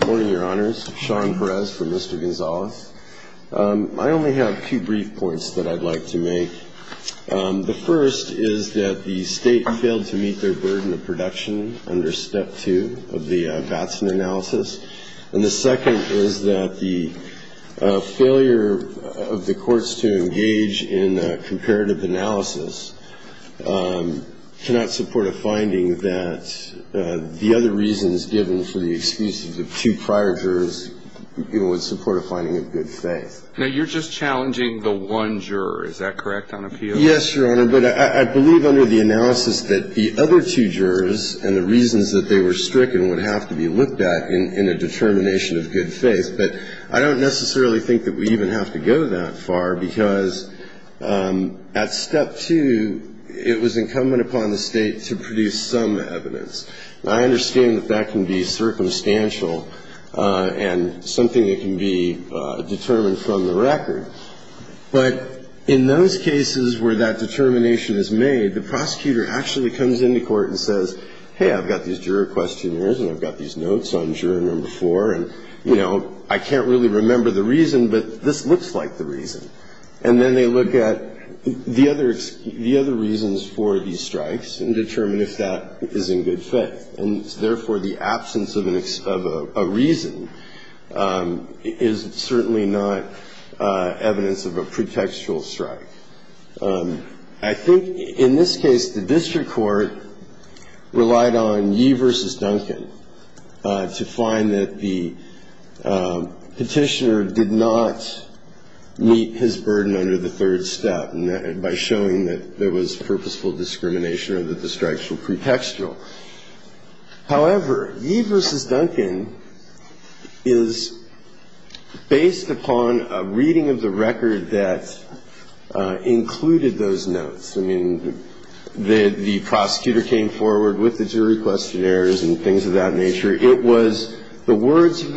Good morning, Your Honors. Sean Perez for Mr. Gonzales. I only have two brief points that I'd like to make. The first is that the State failed to meet their burden of production under Step 2 of the Batson analysis. And the second is that the failure of the courts to engage in a comparative analysis cannot support a finding that the other reasons given for the excuses of two prior jurors would support a finding of good faith. Now, you're just challenging the one juror. Is that correct on appeal? Yes, Your Honor. But I believe under the analysis that the other two jurors and the reasons that they were stricken would have to be looked at in a determination of good faith. But I don't necessarily think that we even have to go that far because at Step 2, it was incumbent upon the State to produce some evidence. Now, I understand that that can be circumstantial and something that can be determined from the record. But in those cases where that determination is made, the prosecutor actually comes into court and says, hey, I've got these juror questionnaires and I've got these notes on juror number four, and, you know, I can't really remember the reason, but this looks like the reason. And then they look at the other reasons for these strikes and determine if that is in good faith. And, therefore, the absence of a reason is certainly not evidence of a pretextual strike. I think in this case, the district court relied on Yee v. Duncan to find that the petitioner did not meet his criteria. And so, in this case, there was no evidence of a pretextual strike. And so, in this case, it was not evidence of a pretextual strike. It was showing that there was purposeful discrimination or that the strikes were pretextual. However, Yee v. Duncan is based upon a reading of the record that included those notes. I mean, the prosecutor came forward with the note and said, well, this is just the words of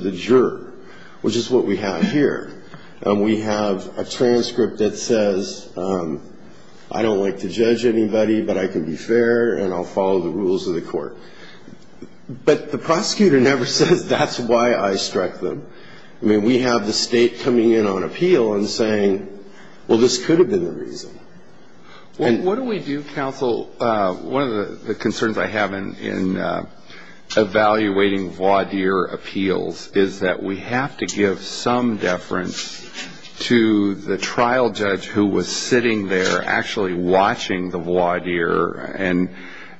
the juror, which is what we have here. And we have a transcript that says, I don't like to judge anybody, but I can be fair and I'll follow the rules of the court. But the prosecutor never says that's why I struck them. I mean, we have the State coming in on appeal and saying, well, this could have been the reason. What do we do, counsel? One of the concerns I have in evaluating voir dire appeals is that we have to give some deference to the trial judge who was sitting there actually watching the voir dire. And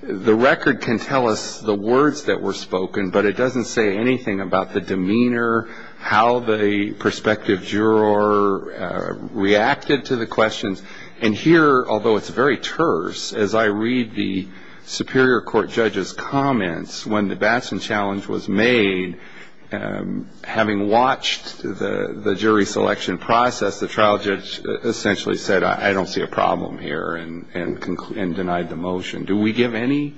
the record can tell us the words that were spoken, but it doesn't say anything about the demeanor, how the prospective juror reacted to the questions. And here, although it's very terse, as I read the superior court judge's comments, when the Batson challenge was made, having watched the jury selection process, the trial judge essentially said, I don't see a problem here and denied the motion. Do we give any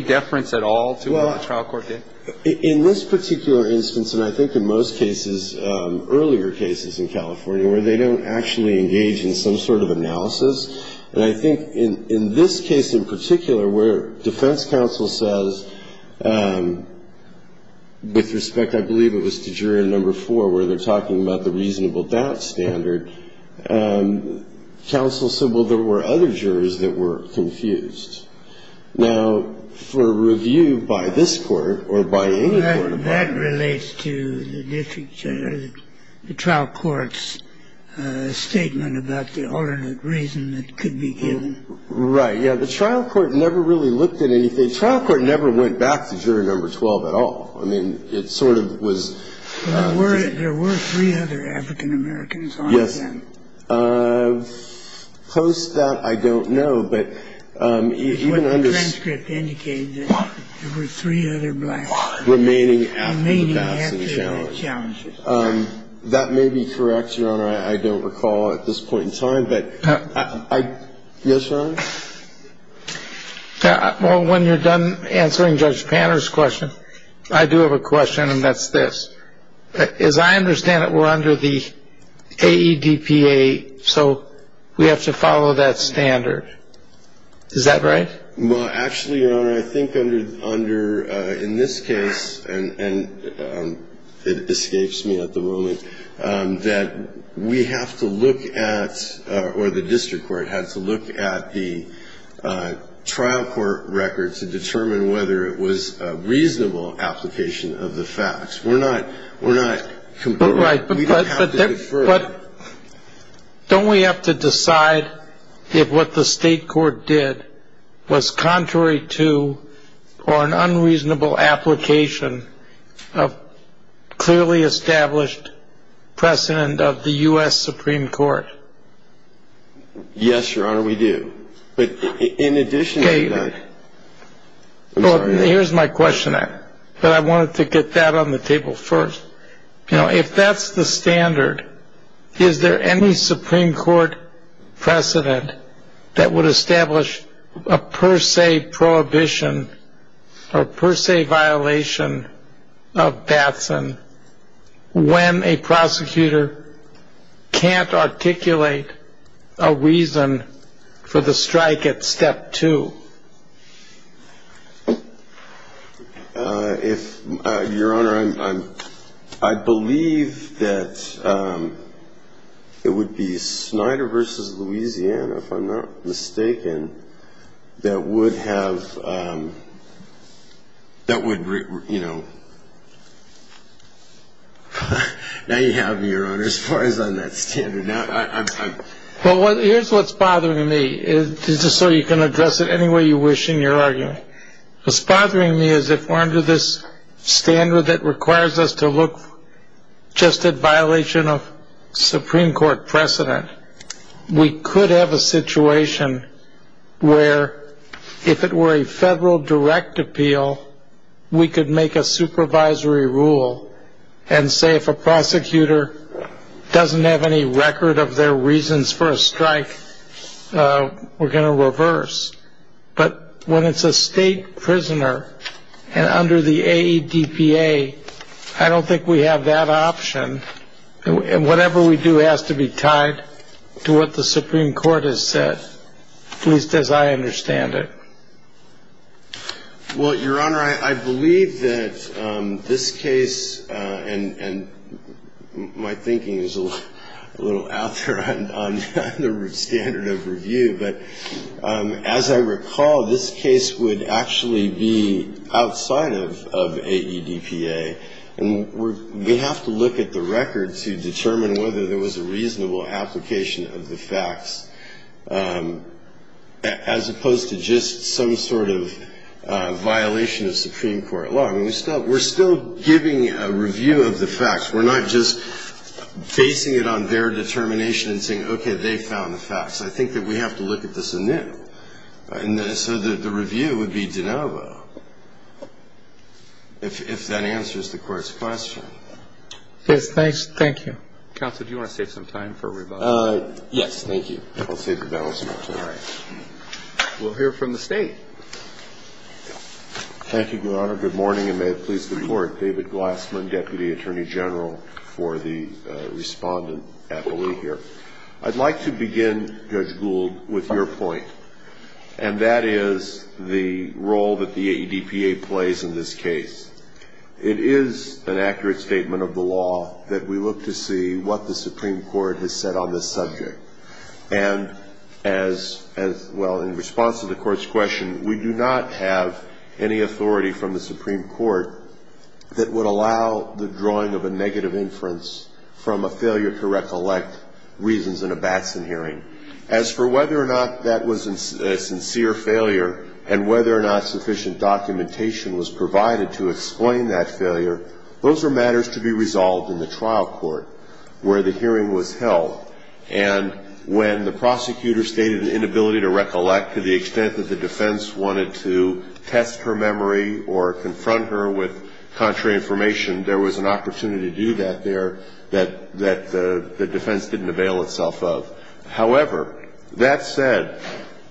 deference at all to what the trial court did? In this particular instance, and I think in most cases, earlier cases in California where they don't actually engage in some sort of analysis, and I think in this case in particular where defense counsel says, with respect, I believe it was to juror number four where they're talking about the reasonable doubt standard, counsel said, well, there were other jurors that were confused. Now, for review by this court or by any court of law… The trial court never really looked at anything. The trial court never went back to juror number 12 at all. I mean, it sort of was… But there were three other African Americans on the panel. Yes. Post that, I don't know, but even under… The transcript indicated that there were three other blacks remaining after the Batson challenge. Remaining after the Batson challenge. That may be correct, Your Honor. I don't recall at this point in time, but… Yes, Your Honor? Well, when you're done answering Judge Panter's question, I do have a question, and that's this. As I understand it, we're under the AEDPA, so we have to follow that standard. Is that right? Well, actually, Your Honor, I think under… in this case, and it escapes me at the moment, that we have to look at, or the district court has to look at the trial court record to determine whether it was a reasonable application of the facts. We're not… Right. But don't we have to decide that what the state court did, what the district court did, was contrary to, or an unreasonable application of clearly established precedent of the U.S. Supreme Court? Yes, Your Honor, we do. But in addition to that… Okay. Well, here's my question, but I wanted to get that on the table first. You know, if that's the standard, is there any Supreme Court precedent that would establish a person per se prohibition or per se violation of Batson when a prosecutor can't articulate a reason for the strike at Step 2? If… Your Honor, I believe that it would be Snyder v. Louisiana, if I'm not mistaken, that would have… that would, you know… Now you have me, Your Honor, as far as on that standard. Now I'm… Well, here's what's bothering me, just so you can address it any way you wish in your argument. What's bothering me is if we're under this standard that requires us to look just at violation of Supreme Court precedent, we could have a situation where if it were a federal direct appeal, we could make a supervisory rule and say if a prosecutor doesn't have any record of their reasons for a strike, we're going to reverse. But when it's a state prisoner and under the AEDPA, I don't think we have that option. And whatever we do has to be tied to what the Supreme Court has said, at least as I understand it. Well, Your Honor, I believe that this case… and my thinking is a little out there on the standard of review, but as I recall, this case would actually be outside of AEDPA, and we have to look at the record to determine whether there was a reasonable application of the facts, as opposed to just some sort of violation of Supreme Court law. I mean, we're still giving a review of the facts. We're not just basing it on their determination and saying, okay, they found the facts. I think that we have to look at this anew. And I think that's the court's question. Yes, thank you. Counsel, do you want to save some time for rebuttal? Yes, thank you. I'll save the battle some time. All right. We'll hear from the State. Thank you, Your Honor. Good morning, and may it please the Court. David Glassman, Deputy Attorney General for the respondent at the Lee here. I'd like to begin, Judge Gould, with your point, and that is the role that the AEDPA plays in this case. It is the role that the AEDPA plays in this case. It is an accurate statement of the law that we look to see what the Supreme Court has said on this subject. And as well, in response to the Court's question, we do not have any authority from the Supreme Court that would allow the drawing of a negative inference from a failure to recollect reasons in a Batson hearing. As for whether or not that was a sincere failure and whether or not sufficient documentation was provided to explain that failure, those are matters to be resolved in the trial court where the hearing was held. And when the prosecutor stated an inability to recollect to the extent that the defense wanted to test her memory or confront her with contrary information, there was an opportunity to do that there that the defense didn't avail itself of. However, that said,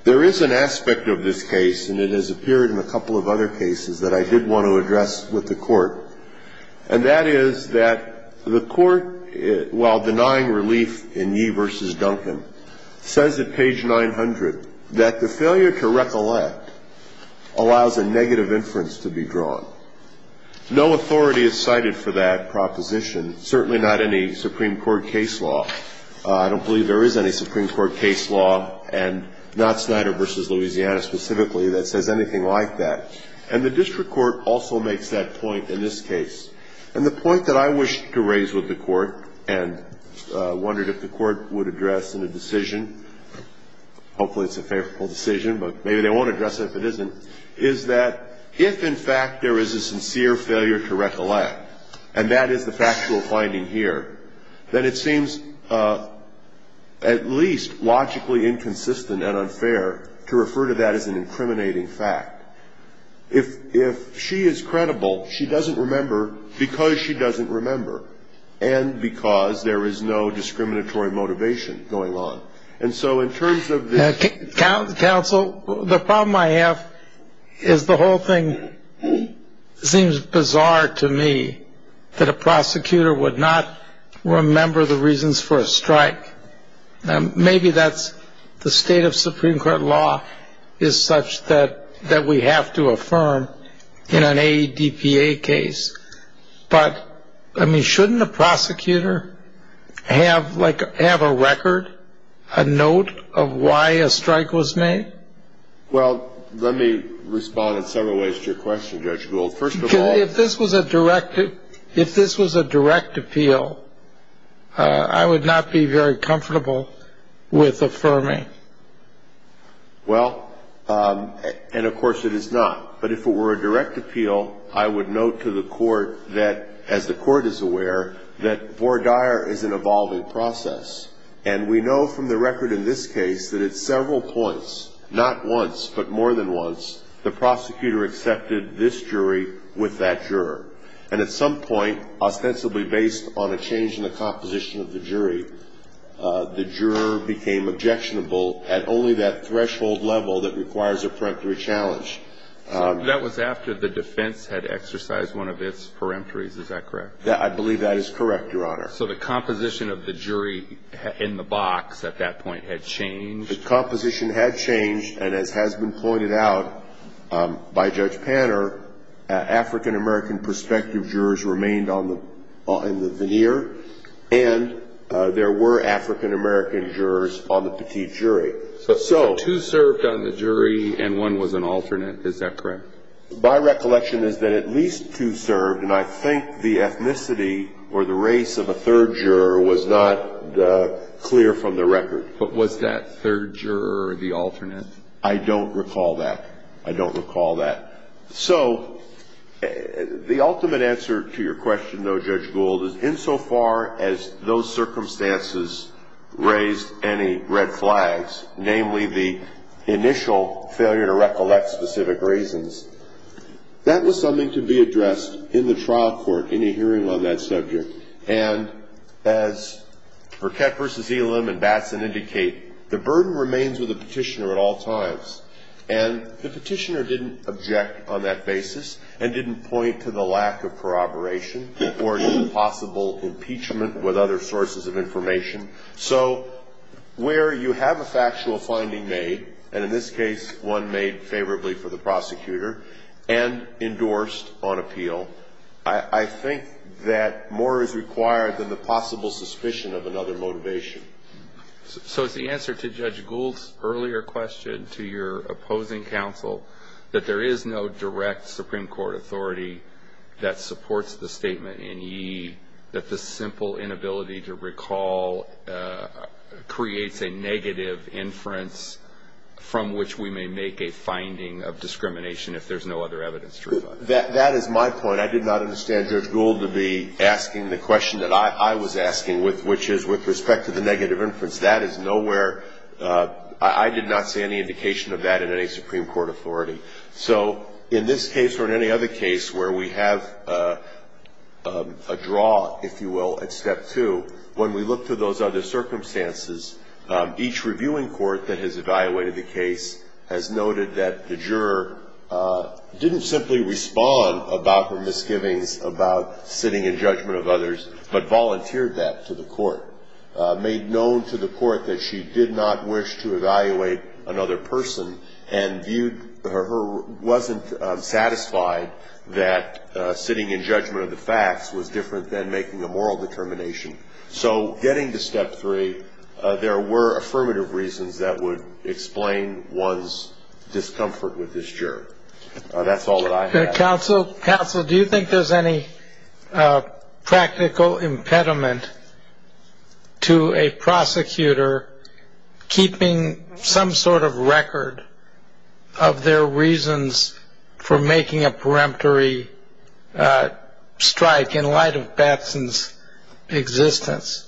there is an aspect of this case, and it has appeared in a couple of other cases that I did want to address with the Court, and that is that the Court, while denying relief in Yee v. Duncan, says at page 900 that the failure to recollect allows a negative inference to be drawn. No authority is cited for that I don't believe there is any Supreme Court case law, and not Snyder v. Louisiana specifically, that says anything like that. And the district court also makes that point in this case. And the point that I wish to raise with the Court and wondered if the Court would address in a decision, hopefully it's a favorable decision, but maybe they won't address it if it isn't, is that if, in fact, there is a sincere failure to recollect, and that is the factual finding here, then it seems at least logically inconsistent and unfair to refer to that as an incriminating fact. If she is credible, she doesn't remember because she doesn't remember, and because there is no discriminatory motivation going on. And so in terms of this Also, the problem I have is the whole thing seems bizarre to me, that a prosecutor would not remember the reasons for a strike. Maybe that's the state of Supreme Court law is such that we have to affirm in an AEDPA case, but shouldn't a prosecutor have a record, a note of why a strike was made? Well, let me respond in several ways to your question, Judge Gould. First of all If this was a direct, if this was a direct appeal, I would not be very comfortable with affirming. Well, and of course it is not. But if it were a direct appeal, I would note to the Court that, as the Court is aware, that vore dire is an evolving process. And we know from the record in this case that at several points, not once, but more than once, the prosecutor accepted this jury with that juror. And at some point, ostensibly based on a change in the composition of the jury, the juror became objectionable at only that threshold level that requires a peremptory challenge. So that was after the defense had exercised one of its peremptories, is that correct? I believe that is correct, Your Honor. So the composition of the jury in the box at that point had changed? The composition had changed, and as has been pointed out by Judge Panner, African-American prospective jurors remained on the veneer, and there were African- American jurors on the petite jury. So two served on the jury and one was an alternate, is that correct? My recollection is that at least two served, and I think the ethnicity or the race of a third juror was not clear from the record. But was that third juror the alternate? I don't recall that. I don't recall that. So the ultimate answer to your question, though, Judge Gould, is insofar as those circumstances raised any red flags, namely the initial failure to recollect specific reasons, that was something to be addressed in the trial court in a hearing on that subject. And as Burkett v. Elam and Batson indicate, the burden remains with the petitioner at all times. And the petitioner didn't object on that basis and didn't point to the lack of corroboration or any possible impeachment with other sources of information. So where you have a factual finding made, and in this case one made favorably for the prosecutor, and endorsed on appeal, I think that more is required than the possible suspicion of another motivation. So is the answer to Judge Gould's earlier question, to your opposing counsel, that there is no direct Supreme Court authority that supports the statement in ye, that the simple inability to recall creates a negative inference from which we may make a finding of discrimination if there's no other evidence to reflect? That is my point. I did not understand Judge Gould to be asking the question that I was asking, which is with respect to the negative inference. That is nowhere, I did not see any indication of that in any Supreme Court authority. So in this case or in any other case where we have a draw, if you will, at step two, when we look through those other circumstances, each reviewing court that has evaluated the case has noted that the juror didn't simply respond about her misgivings about sitting in judgment of others, but volunteered that to the court, made known to the court that she did not wish to evaluate another person, and viewed her, wasn't satisfied that sitting in judgment of the facts was different than making a moral determination. So getting to step three, there were affirmative reasons that would explain one's discomfort with this juror. That's all that I have. Counsel, do you think there's any practical impediment to a prosecutor keeping some sort of record of their reasons for making a peremptory strike in light of Batson's existence?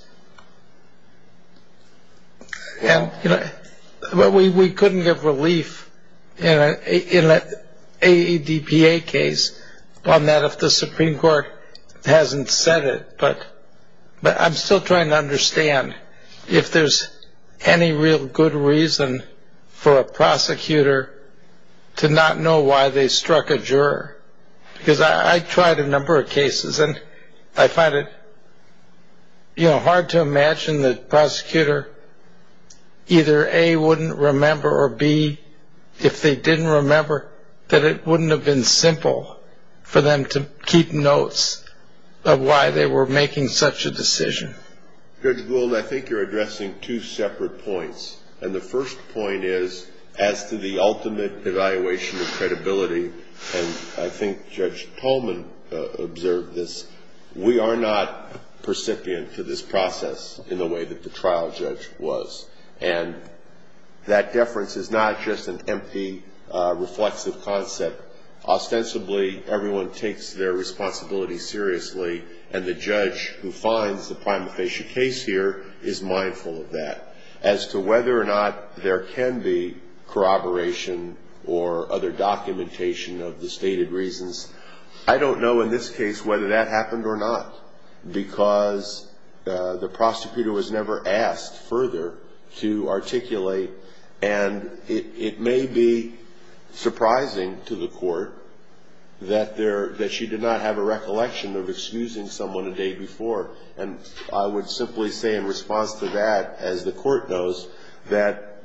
We couldn't give relief in an AEDPA case on that if the Supreme Court hasn't said it, but I'm still trying to understand if there's any real good reason for a prosecutor to not know why they struck a juror. Because I tried a number of cases, and I find it hard to imagine the prosecutor, either A, wouldn't remember, or B, if they didn't remember, that it wouldn't have been simple for them to keep notes of why they were making such a decision. Judge Gould, I think you're addressing two separate points, and the first point is as to the ultimate evaluation of credibility, and I think Judge Tolman observed this, we are not percipient to this process in the way that the trial judge was. And that deference is not just an empty, reflexive concept. Ostensibly, everyone takes their responsibility seriously, and the judge who finds the prima facie case here is mindful of that. As to whether or not there can be corroboration or other documentation of the stated reasons, I don't know in this case whether that happened or not, because the prosecutor was never asked further to articulate, and it may be surprising to the court that she did not have a recollection of excusing someone a day before. And I would simply say in response to that, as the court knows, that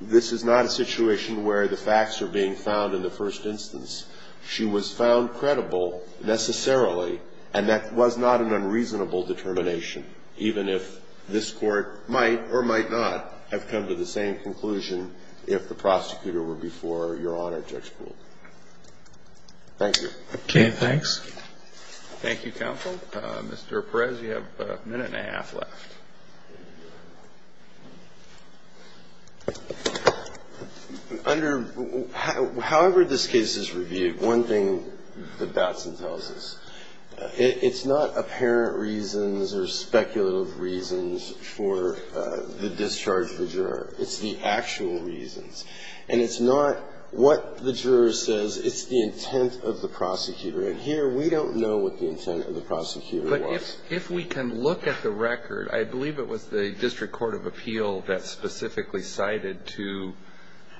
this is not a situation where the facts are being found in the first instance. She was found credible necessarily, and that was not an unreasonable determination, even if this Court might or might not have come to the same conclusion if the prosecutor were before Your Honor, Judge Gould. Thank you. Okay, thanks. Thank you, counsel. Mr. Perez, you have a minute and a half left. Under, however this case is reviewed, one thing that Batson tells us, it's not apparent reasons or speculative reasons for the discharge of the juror. It's the actual reasons. And it's not what the juror says. It's the intent of the prosecutor. And here, we don't know what the intent of the prosecutor was. I believe it was the District Court of Appeal that specifically cited to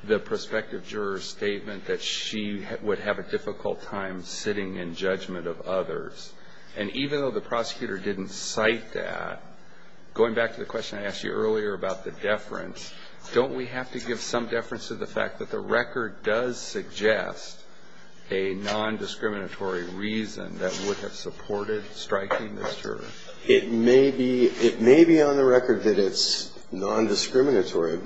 the prospective juror's statement that she would have a difficult time sitting in judgment of others. And even though the prosecutor didn't cite that, going back to the question I asked you earlier about the deference, don't we have to give some deference to the fact that the record does suggest a nondiscriminatory reason that would have supported striking this juror? It may be on the record that it's nondiscriminatory.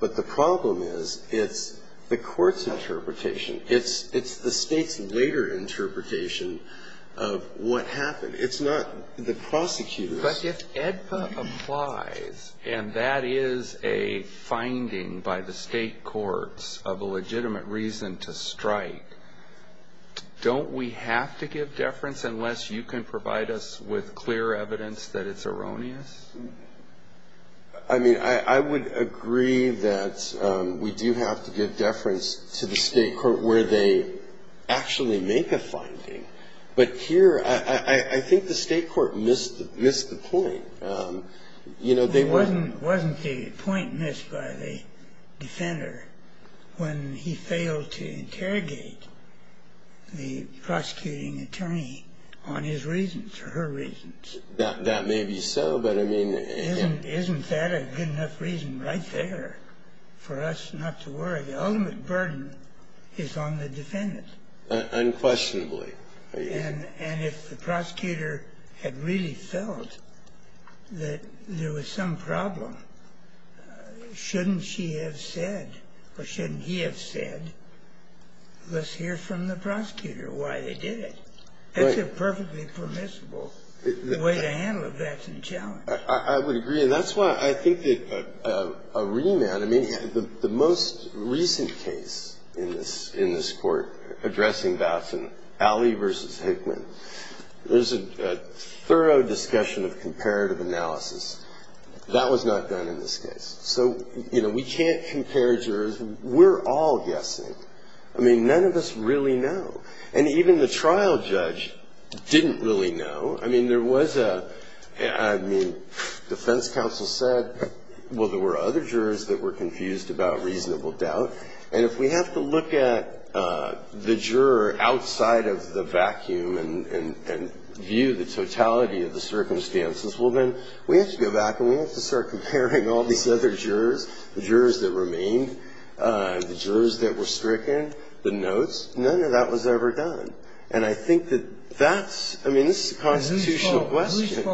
But the problem is it's the court's interpretation. It's the State's later interpretation of what happened. It's not the prosecutor's. But if AEDPA applies, and that is a finding by the State courts of a legitimate reason to strike, don't we have to give deference unless you can provide us with clear evidence that it's erroneous? I mean, I would agree that we do have to give deference to the State court where they actually make a finding. But here, I think the State court missed the point. Wasn't the point missed by the defender when he failed to interrogate the prosecuting attorney on his reasons or her reasons? That may be so, but I mean... Isn't that a good enough reason right there for us not to worry? The ultimate burden is on the defendant. Unquestionably. And if the prosecutor had really felt that there was some problem, shouldn't she have said or shouldn't he have said, let's hear from the prosecutor why they did it? That's a perfectly permissible way to handle a Batson challenge. I would agree, and that's why I think that a remand... The most recent case in this court addressing Batson, Alley v. Hickman, there's a thorough discussion of comparative analysis. That was not done in this case. So, you know, we can't compare jurors. We're all guessing. I mean, none of us really know. And even the trial judge didn't really know. I mean, there was a... I mean, defense counsel said, well, there were other jurors that were confused about reasonable doubt. And if we have to look at the juror outside of the vacuum and view the totality of the circumstances, well, then we have to go back and we have to start comparing all these other jurors, the jurors that remained, the jurors that were stricken, the notes. None of that was ever done. And I think that that's, I mean, this is a constitutional question.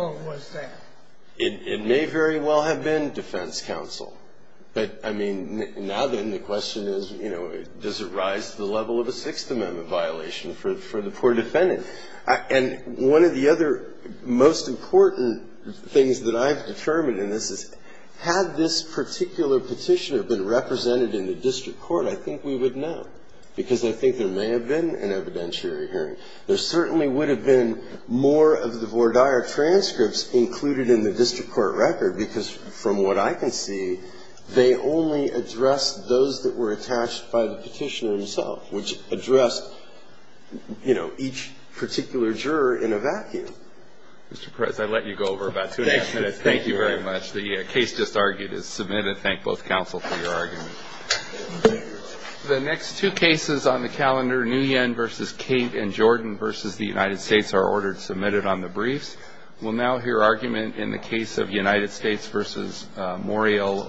It may very well have been defense counsel. But, I mean, now then, the question is, you know, does it rise to the level of a Sixth Amendment violation for the poor defendant? And one of the other most important things that I've determined in this is, had this particular petitioner been represented in the district court, I think we would know, because I think there may have been an evidentiary hearing. There certainly would have been more of the Vordire transcripts included in the district court record, because from what I can see, they only addressed those that were attached by the petitioner himself, which addressed, you know, each particular juror in a vacuum. Mr. Perez, I let you go over about two and a half minutes. Thank you very much. The case just argued is submitted. Thank both counsel for your argument. The next two cases on the calendar, Nguyen v. Cate and Jordan v. United States, are ordered submitted on the briefs. We'll now hear argument in the case of United States v. Morial Luna.